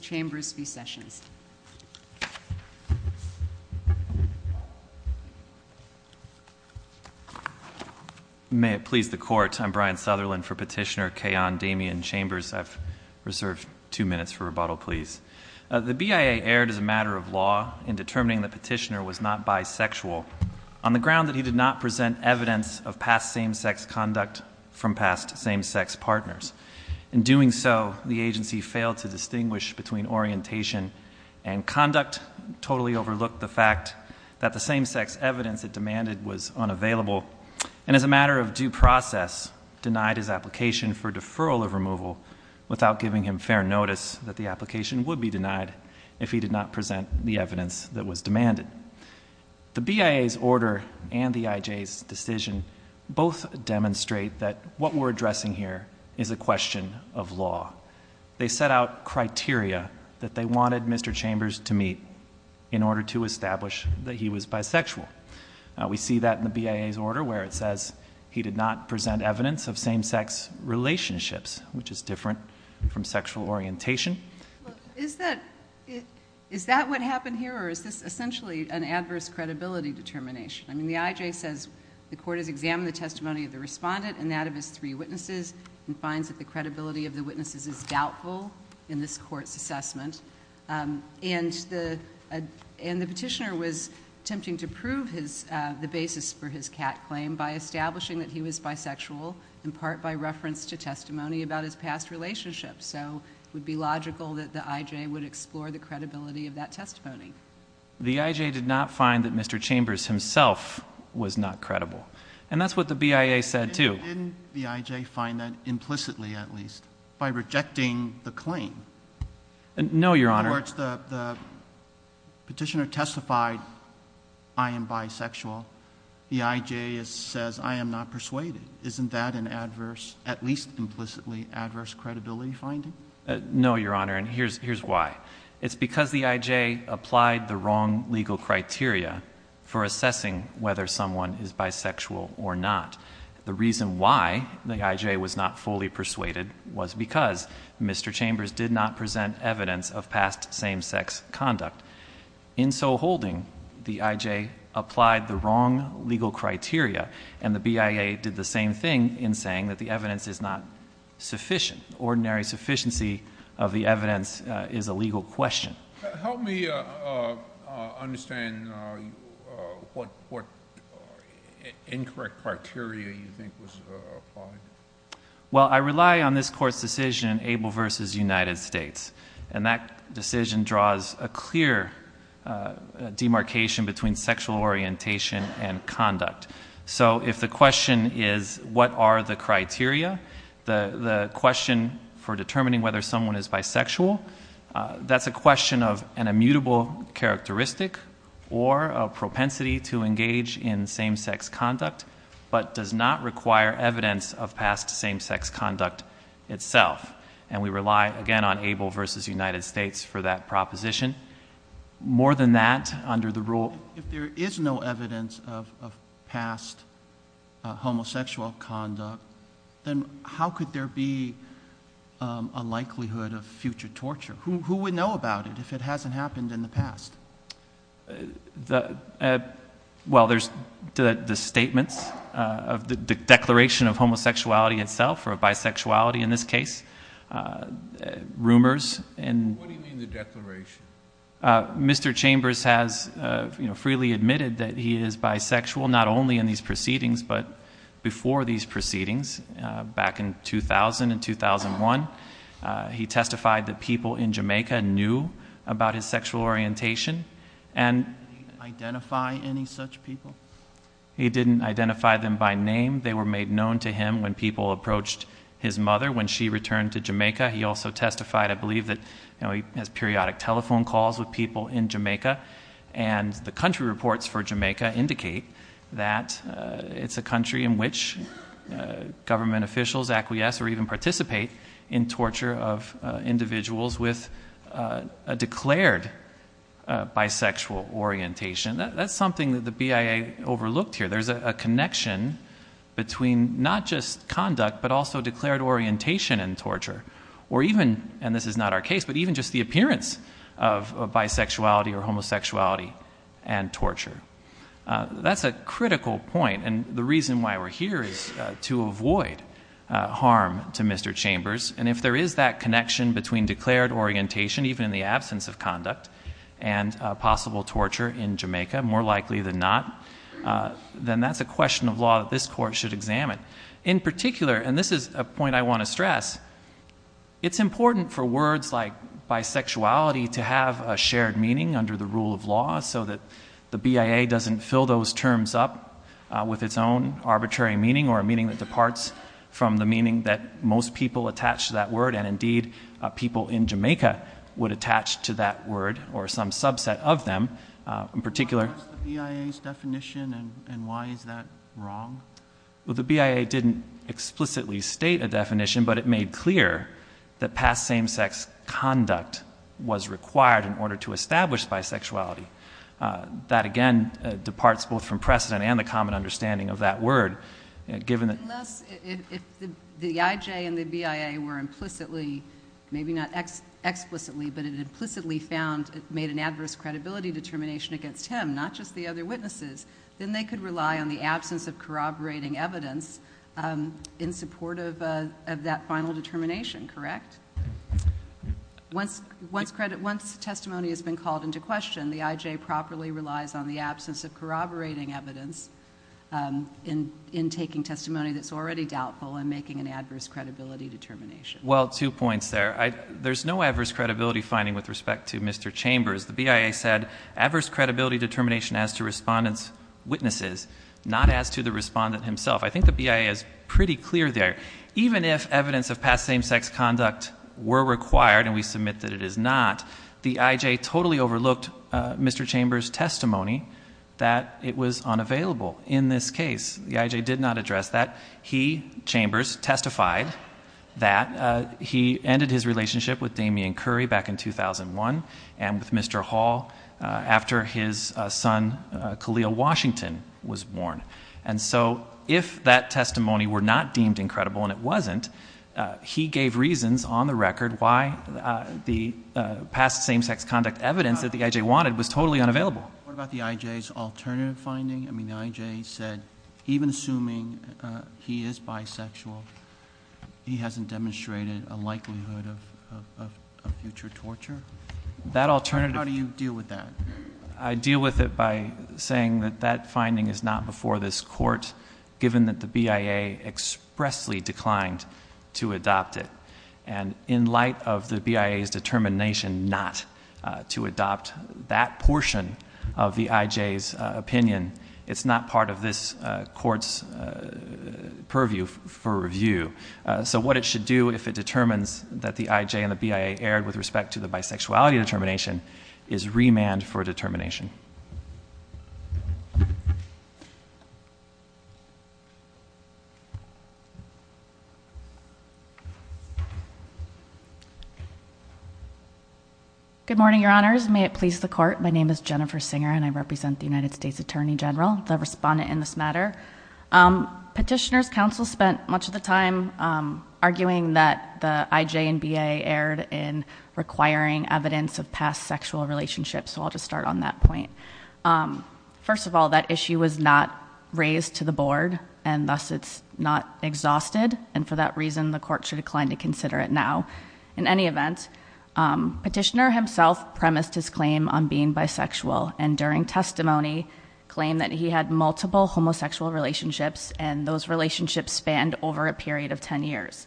Chambers v. Sessions. May it please the Court, I'm Brian Sutherland for Petitioner Kayon Damian Chambers. The BIA erred as a matter of law in determining that Petitioner was not bisexual on the ground that he did not present evidence of past same-sex conduct from past same-sex partners. In doing so, the agency failed to distinguish between orientation and conduct, totally overlooked the fact that the same-sex evidence it demanded was unavailable, and as a matter of due process, denied his application for deferral of removal without giving him fair notice that the application would be denied if he did not present the evidence that was demanded. The BIA's order and the IJ's decision both demonstrate that what we're addressing here is a question of law. They set out criteria that they wanted Mr. Chambers to meet in order to establish that he was bisexual. We see that in the BIA's order where it says he did not present evidence of same-sex relationships, which is different from sexual orientation. Is that what happened here, or is this essentially an adverse credibility determination? I mean, the IJ says the court has examined the testimony of the respondent and that of his three witnesses and finds that the credibility of the witnesses is doubtful in this court's assessment. And the petitioner was attempting to prove the basis for his cat claim by establishing that he was bisexual, in part by reference to testimony about his past relationships. So it would be logical that the IJ would explore the credibility of that testimony. The IJ did not find that Mr. Chambers himself was not credible, and that's what the BIA said too. Didn't the IJ find that implicitly, at least, by rejecting the claim? No, Your Honor. In other words, the petitioner testified, I am bisexual. The IJ says, I am not persuaded. Isn't that an adverse, at least implicitly, adverse credibility finding? No, Your Honor, and here's why. It's because the IJ applied the wrong legal criteria for assessing whether someone is bisexual or not. The reason why the IJ was not fully persuaded was because Mr. Chambers did not present evidence of past same-sex conduct. In so holding, the IJ applied the wrong legal criteria, and the BIA did the same thing in saying that the evidence is not sufficient. Ordinary sufficiency of the evidence is a legal question. Help me understand what incorrect criteria you think was applied. Well, I rely on this Court's decision, Abel v. United States, and that decision draws a clear demarcation between sexual orientation and conduct. So if the question is what are the criteria, the question for determining whether someone is bisexual, that's a question of an immutable characteristic or a propensity to engage in same-sex conduct but does not require evidence of past same-sex conduct itself. And we rely, again, on Abel v. United States for that proposition. More than that, under the rule— If there is no evidence of past homosexual conduct, then how could there be a likelihood of future torture? Who would know about it if it hasn't happened in the past? Well, there's the statements of the Declaration of Homosexuality itself, or bisexuality in this case, rumors. What do you mean the Declaration? Mr. Chambers has freely admitted that he is bisexual not only in these proceedings but before these proceedings back in 2000 and 2001. He testified that people in Jamaica knew about his sexual orientation. Did he identify any such people? He didn't identify them by name. They were made known to him when people approached his mother when she returned to Jamaica. He also testified, I believe, that he has periodic telephone calls with people in Jamaica, and the country reports for Jamaica indicate that it's a country in which government officials acquiesce or even participate in torture of individuals with a declared bisexual orientation. That's something that the BIA overlooked here. There's a connection between not just conduct but also declared orientation in torture, or even—and this is not our case—but even just the appearance of bisexuality or homosexuality and torture. That's a critical point, and the reason why we're here is to avoid harm to Mr. Chambers, and if there is that connection between declared orientation, even in the absence of conduct, and possible torture in Jamaica, more likely than not, then that's a question of law that this Court should examine. In particular—and this is a point I want to stress— it's important for words like bisexuality to have a shared meaning under the rule of law so that the BIA doesn't fill those terms up with its own arbitrary meaning or a meaning that departs from the meaning that most people attach to that word, and indeed people in Jamaica would attach to that word or some subset of them. In particular— What is the BIA's definition, and why is that wrong? but it made clear that past same-sex conduct was required in order to establish bisexuality. That, again, departs both from precedent and the common understanding of that word, given that— Unless—if the IJ and the BIA were implicitly—maybe not explicitly, but it implicitly found— made an adverse credibility determination against him, not just the other witnesses, then they could rely on the absence of corroborating evidence in support of that final determination, correct? Once testimony has been called into question, the IJ properly relies on the absence of corroborating evidence in taking testimony that's already doubtful and making an adverse credibility determination. Well, two points there. There's no adverse credibility finding with respect to Mr. Chambers. The BIA said adverse credibility determination as to respondent's witnesses, not as to the respondent himself. I think the BIA is pretty clear there. Even if evidence of past same-sex conduct were required, and we submit that it is not, the IJ totally overlooked Mr. Chambers' testimony that it was unavailable in this case. The IJ did not address that. He, Chambers, testified that. He ended his relationship with Damian Curry back in 2001 and with Mr. Hall after his son Khalil Washington was born. And so if that testimony were not deemed incredible, and it wasn't, he gave reasons on the record why the past same-sex conduct evidence that the IJ wanted was totally unavailable. What about the IJ's alternative finding? I mean, the IJ said even assuming he is bisexual, he hasn't demonstrated a likelihood of future torture? That alternative... How do you deal with that? I deal with it by saying that that finding is not before this court, given that the BIA expressly declined to adopt it. And in light of the BIA's determination not to adopt that portion of the IJ's opinion, it's not part of this court's purview for review. So what it should do if it determines that the IJ and the BIA erred with respect to the bisexuality determination is remand for determination. Good morning, Your Honors. May it please the Court. My name is Jennifer Singer, and I represent the United States Attorney General, the respondent in this matter. Petitioner's counsel spent much of the time arguing that the IJ and BIA erred in requiring evidence of past sexual relationships, so I'll just start on that point. First of all, that issue was not raised to the Board, and thus it's not exhausted, and for that reason the Court should decline to consider it now. In any event, Petitioner himself premised his claim on being bisexual, and during testimony claimed that he had multiple homosexual relationships, and those relationships spanned over a period of 10 years.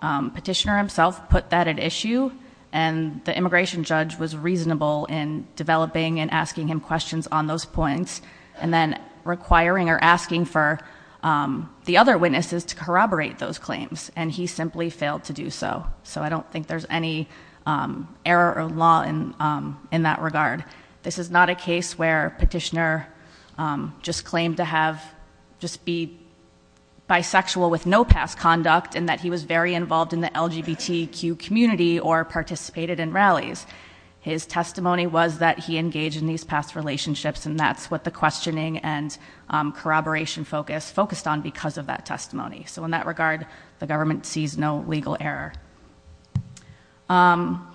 Petitioner himself put that at issue, and the immigration judge was reasonable in developing and asking him questions on those points, and then requiring or asking for the other witnesses to corroborate those claims, and he simply failed to do so. So I don't think there's any error of law in that regard. This is not a case where Petitioner just claimed to have, just be bisexual with no past conduct, and that he was very involved in the LGBTQ community or participated in rallies. His testimony was that he engaged in these past relationships, and that's what the questioning and corroboration focus focused on because of that testimony. So in that regard, the government sees no legal error.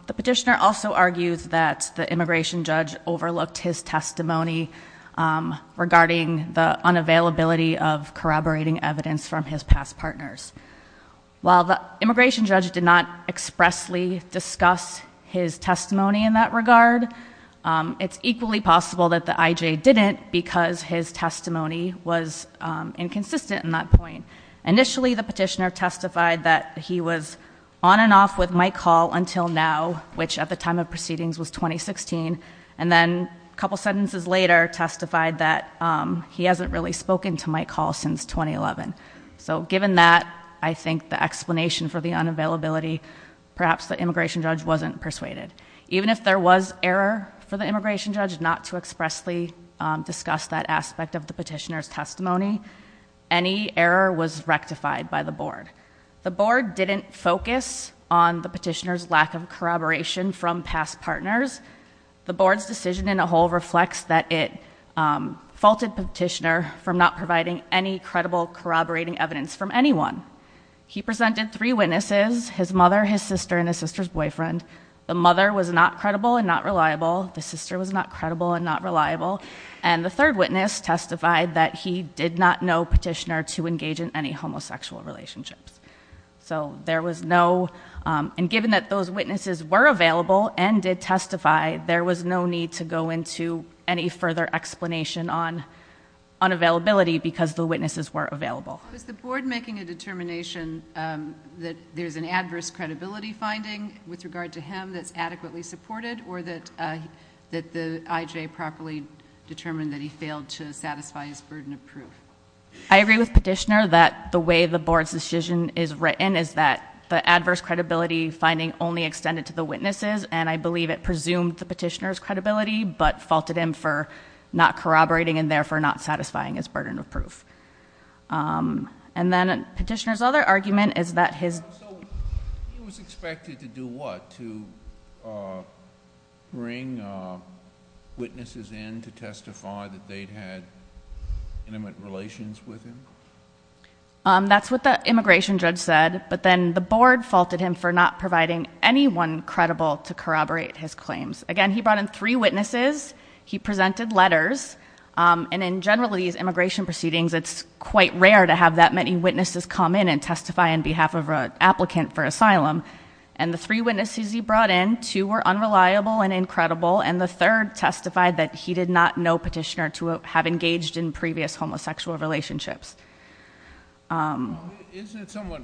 The Petitioner also argues that the immigration judge overlooked his testimony regarding the unavailability of corroborating evidence from his past partners. While the immigration judge did not expressly discuss his testimony in that regard, it's equally possible that the IJ didn't because his testimony was inconsistent in that point. Initially, the Petitioner testified that he was on and off with Mike Hall until now, which at the time of proceedings was 2016, and then a couple sentences later testified that he hasn't really spoken to Mike Hall since 2011. So given that, I think the explanation for the unavailability, perhaps the immigration judge wasn't persuaded. Even if there was error for the immigration judge not to expressly discuss that aspect of the Petitioner's testimony, any error was rectified by the Board. The Board didn't focus on the Petitioner's lack of corroboration from past partners. The Board's decision in a whole reflects that it faulted the Petitioner from not providing any credible corroborating evidence from anyone. He presented three witnesses, his mother, his sister, and his sister's boyfriend. The mother was not credible and not reliable. The sister was not credible and not reliable. And the third witness testified that he did not know Petitioner to engage in any homosexual relationships. So there was no... and given that those witnesses were available and did testify, there was no need to go into any further explanation on unavailability because the witnesses were available. Was the Board making a determination that there's an adverse credibility finding with regard to him that's adequately supported or that the IJ properly determined that he failed to satisfy his burden of proof? I agree with Petitioner that the way the Board's decision is written is that the adverse credibility finding only extended to the witnesses, and I believe it presumed the Petitioner's credibility but faulted him for not corroborating and therefore not satisfying his burden of proof. And then Petitioner's other argument is that his... So he was expected to do what? To bring witnesses in to testify that they'd had intimate relations with him? That's what the immigration judge said. But then the Board faulted him for not providing anyone credible to corroborate his claims. Again, he brought in three witnesses. He presented letters. And in general, these immigration proceedings, it's quite rare to have that many witnesses come in and testify on behalf of an applicant for asylum. And the three witnesses he brought in, two were unreliable and incredible, and the third testified that he did not know Petitioner to have engaged in previous homosexual relationships. Isn't it somewhat...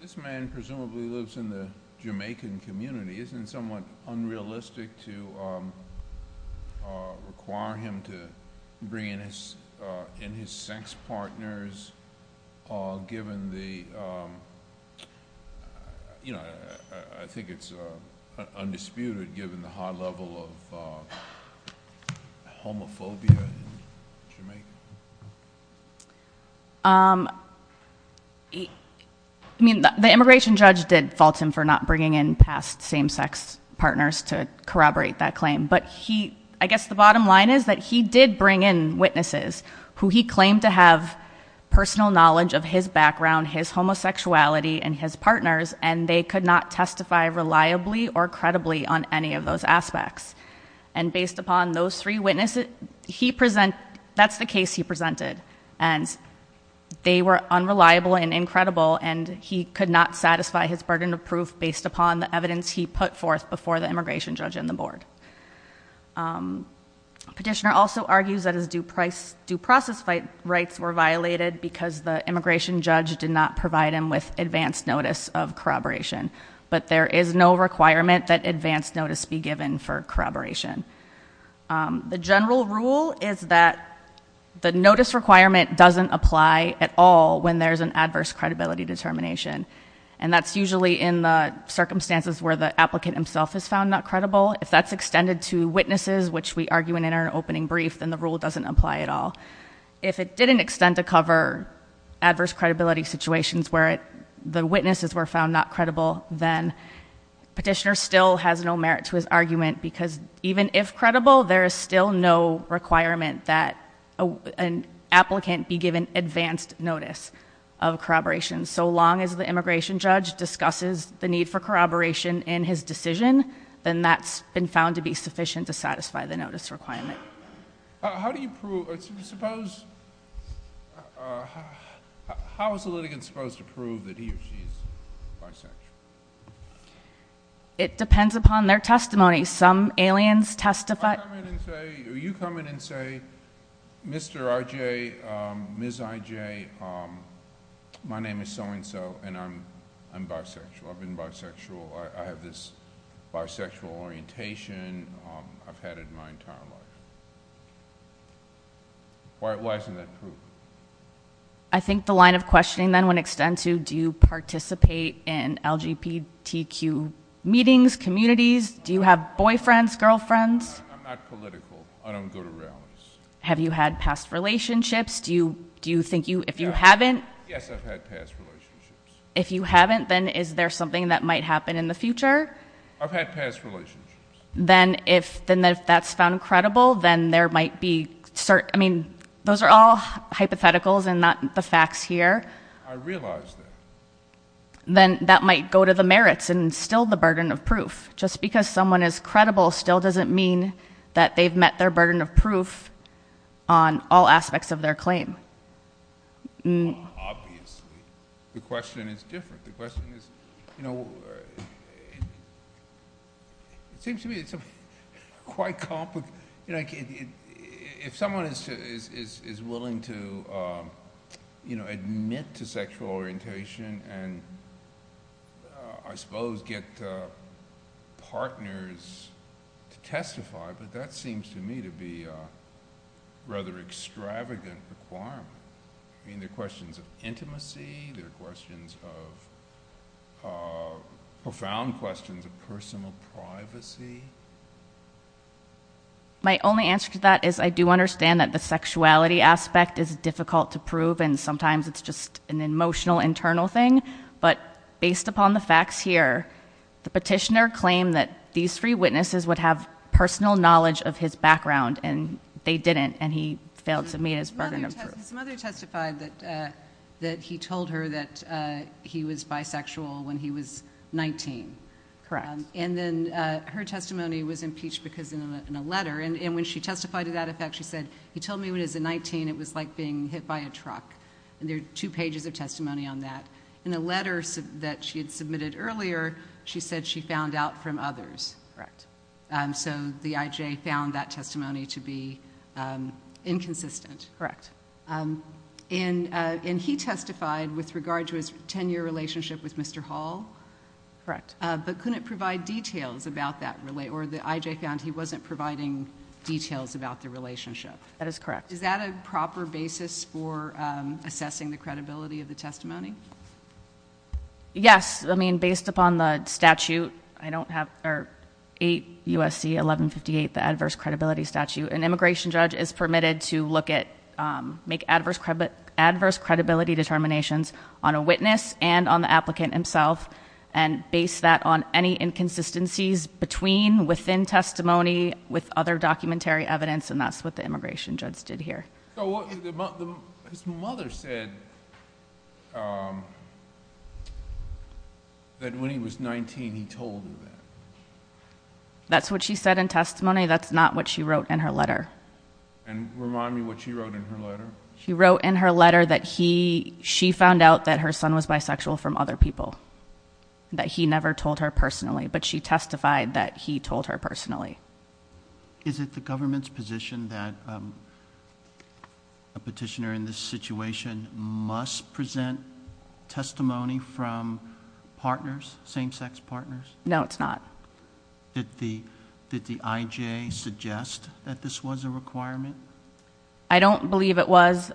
This man presumably lives in the Jamaican community. Isn't it somewhat unrealistic to require him to bring in his sex partners given the... I think it's undisputed given the high level of homophobia in Jamaica. I mean, the immigration judge did fault him for not bringing in past same-sex partners to corroborate that claim. But he... I guess the bottom line is that he did bring in witnesses who he claimed to have personal knowledge of his background, his homosexuality, and his partners, and they could not testify reliably or credibly on any of those aspects. And based upon those three witnesses, he presented... that's the case he presented. And they were unreliable and incredible, and he could not satisfy his burden of proof based upon the evidence he put forth before the immigration judge and the board. Petitioner also argues that his due process rights were violated because the immigration judge did not provide him with advance notice of corroboration. But there is no requirement that advance notice be given for corroboration. The general rule is that the notice requirement doesn't apply at all when there's an adverse credibility determination. And that's usually in the circumstances where the applicant himself is found not credible. If that's extended to witnesses, which we argue in our opening brief, then the rule doesn't apply at all. If it didn't extend to cover adverse credibility situations where the witnesses were found not credible, then petitioner still has no merit to his argument because even if credible, there is still no requirement that an applicant be given advanced notice of corroboration. So long as the immigration judge discusses the need for corroboration in his decision, then that's been found to be sufficient to satisfy the notice requirement. How do you prove, suppose, how is a litigant supposed to prove that he or she is bisexual? It depends upon their testimony. Some aliens testify. You come in and say, Mr. IJ, Ms. IJ, my name is so-and-so and I'm bisexual. I've been bisexual. I have this bisexual orientation. I've had it my entire life. Why isn't that proof? I think the line of questioning then would extend to do you participate in LGBTQ meetings, communities? Do you have boyfriends, girlfriends? I'm not political. I don't go to rallies. Have you had past relationships? Do you think you, if you haven't? Yes, I've had past relationships. If you haven't, then is there something that might happen in the future? I've had past relationships. Then if that's found credible, then there might be certain, I mean, those are all hypotheticals and not the facts here. I realize that. Then that might go to the merits and still the burden of proof. Just because someone is credible still doesn't mean that they've met their burden of proof on all aspects of their claim. Obviously. The question is different. The question is, you know, it seems to me it's quite complicated. If someone is willing to admit to sexual orientation and I suppose get partners to testify, but that seems to me to be a rather extravagant requirement. I mean, there are questions of intimacy. There are questions of, profound questions of personal privacy. My only answer to that is I do understand that the sexuality aspect is difficult to prove and sometimes it's just an emotional internal thing. But based upon the facts here, the petitioner claimed that these three witnesses would have personal knowledge of his background and they didn't. And he failed to meet his burden of proof. His mother testified that he told her that he was bisexual when he was 19. Correct. And then her testimony was impeached because in a letter, and when she testified to that effect, she said, he told me when he was 19 it was like being hit by a truck. And there are two pages of testimony on that. In a letter that she had submitted earlier, she said she found out from others. Correct. So the IJ found that testimony to be inconsistent. Correct. And he testified with regard to his 10-year relationship with Mr. Hall? Correct. But couldn't provide details about that, or the IJ found he wasn't providing details about the relationship? That is correct. Is that a proper basis for assessing the credibility of the testimony? Yes. I mean, based upon the statute, 8 U.S.C. 1158, the adverse credibility statute, an immigration judge is permitted to look at, make adverse credibility determinations on a witness and on the applicant himself. And base that on any inconsistencies between, within testimony, with other documentary evidence. And that's what the immigration judge did here. His mother said that when he was 19 he told her that. That's what she said in testimony. That's not what she wrote in her letter. And remind me what she wrote in her letter. She wrote in her letter that she found out that her son was bisexual from other people, that he never told her personally. But she testified that he told her personally. Is it the government's position that a petitioner in this situation must present testimony from partners, same-sex partners? No, it's not. Did the IJ suggest that this was a requirement? I don't believe it was.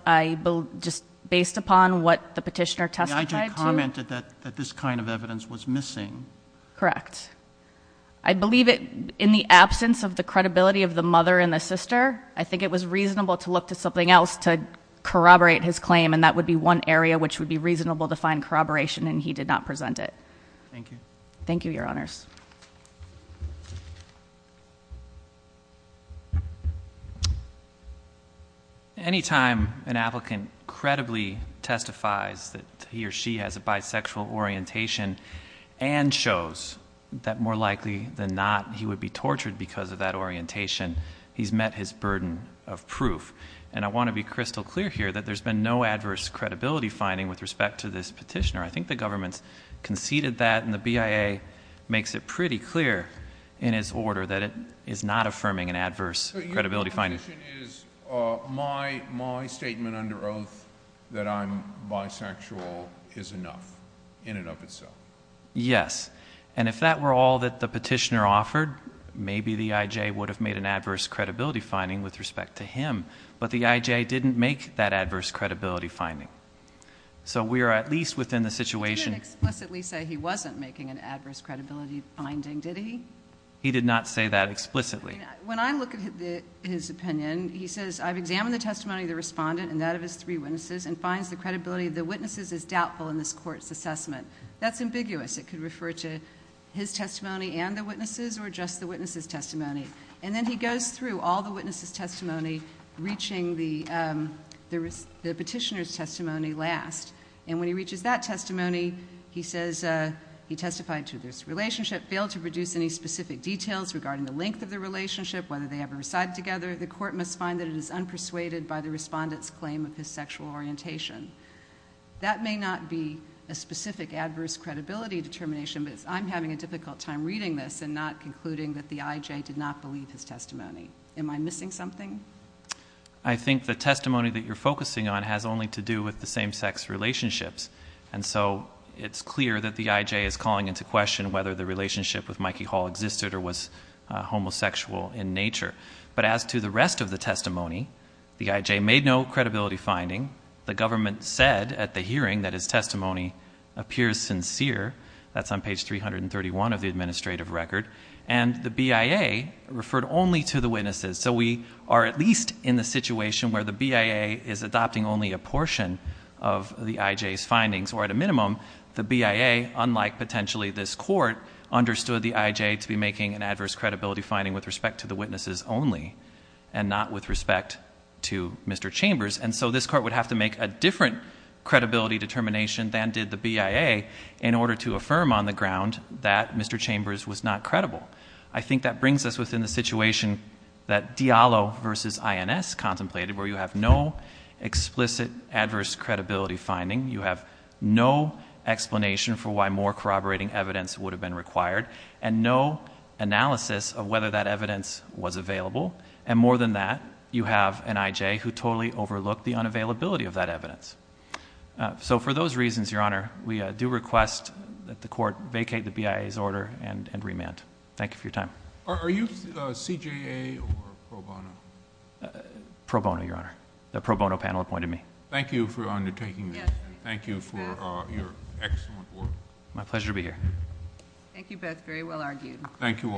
Just based upon what the petitioner testified to. The IJ commented that this kind of evidence was missing. Correct. I believe it, in the absence of the credibility of the mother and the sister, I think it was reasonable to look to something else to corroborate his claim. And that would be one area which would be reasonable to find corroboration, and he did not present it. Thank you. Thank you, Your Honors. Any time an applicant credibly testifies that he or she has a bisexual orientation and shows that more likely than not he would be tortured because of that orientation, he's met his burden of proof. And I want to be crystal clear here that there's been no adverse credibility finding with respect to this petitioner. I think the government's conceded that, and the BIA makes it pretty clear in his order that it is not affirming an adverse credibility finding. So your position is my statement under oath that I'm bisexual is enough, in and of itself? Yes. And if that were all that the petitioner offered, maybe the IJ would have made an adverse credibility finding with respect to him. But the IJ didn't make that adverse credibility finding. So we are at least within the situation. He didn't explicitly say he wasn't making an adverse credibility finding, did he? He did not say that explicitly. When I look at his opinion, he says, I've examined the testimony of the respondent and that of his three witnesses and finds the credibility of the witnesses is doubtful in this court's assessment. That's ambiguous. It could refer to his testimony and the witnesses or just the witnesses' testimony. And then he goes through all the witnesses' testimony, reaching the petitioner's testimony last. And when he reaches that testimony, he says he testified to this relationship, failed to produce any specific details regarding the length of the relationship, whether they ever recited together. The court must find that it is unpersuaded by the respondent's claim of his sexual orientation. That may not be a specific adverse credibility determination, but I'm having a difficult time reading this and not concluding that the IJ did not believe his testimony. Am I missing something? I think the testimony that you're focusing on has only to do with the same-sex relationships. And so it's clear that the IJ is calling into question whether the relationship with Mikey Hall existed or was homosexual in nature. But as to the rest of the testimony, the IJ made no credibility finding. The government said at the hearing that his testimony appears sincere. That's on page 331 of the administrative record. And the BIA referred only to the witnesses. So we are at least in the situation where the BIA is adopting only a portion of the IJ's findings. Or at a minimum, the BIA, unlike potentially this court, understood the IJ to be making an adverse credibility finding with respect to the witnesses only and not with respect to Mr. Chambers. And so this court would have to make a different credibility determination than did the BIA in order to affirm on the ground that Mr. Chambers was not credible. I think that brings us within the situation that Diallo v. INS contemplated, where you have no explicit adverse credibility finding. You have no explanation for why more corroborating evidence would have been required. And no analysis of whether that evidence was available. And more than that, you have an IJ who totally overlooked the unavailability of that evidence. So for those reasons, Your Honor, we do request that the court vacate the BIA's order and remand. Thank you for your time. Are you CJA or pro bono? Pro bono, Your Honor. The pro bono panel appointed me. Thank you for undertaking this. Thank you for your excellent work. My pleasure to be here. Thank you both. Very well argued. Thank you all.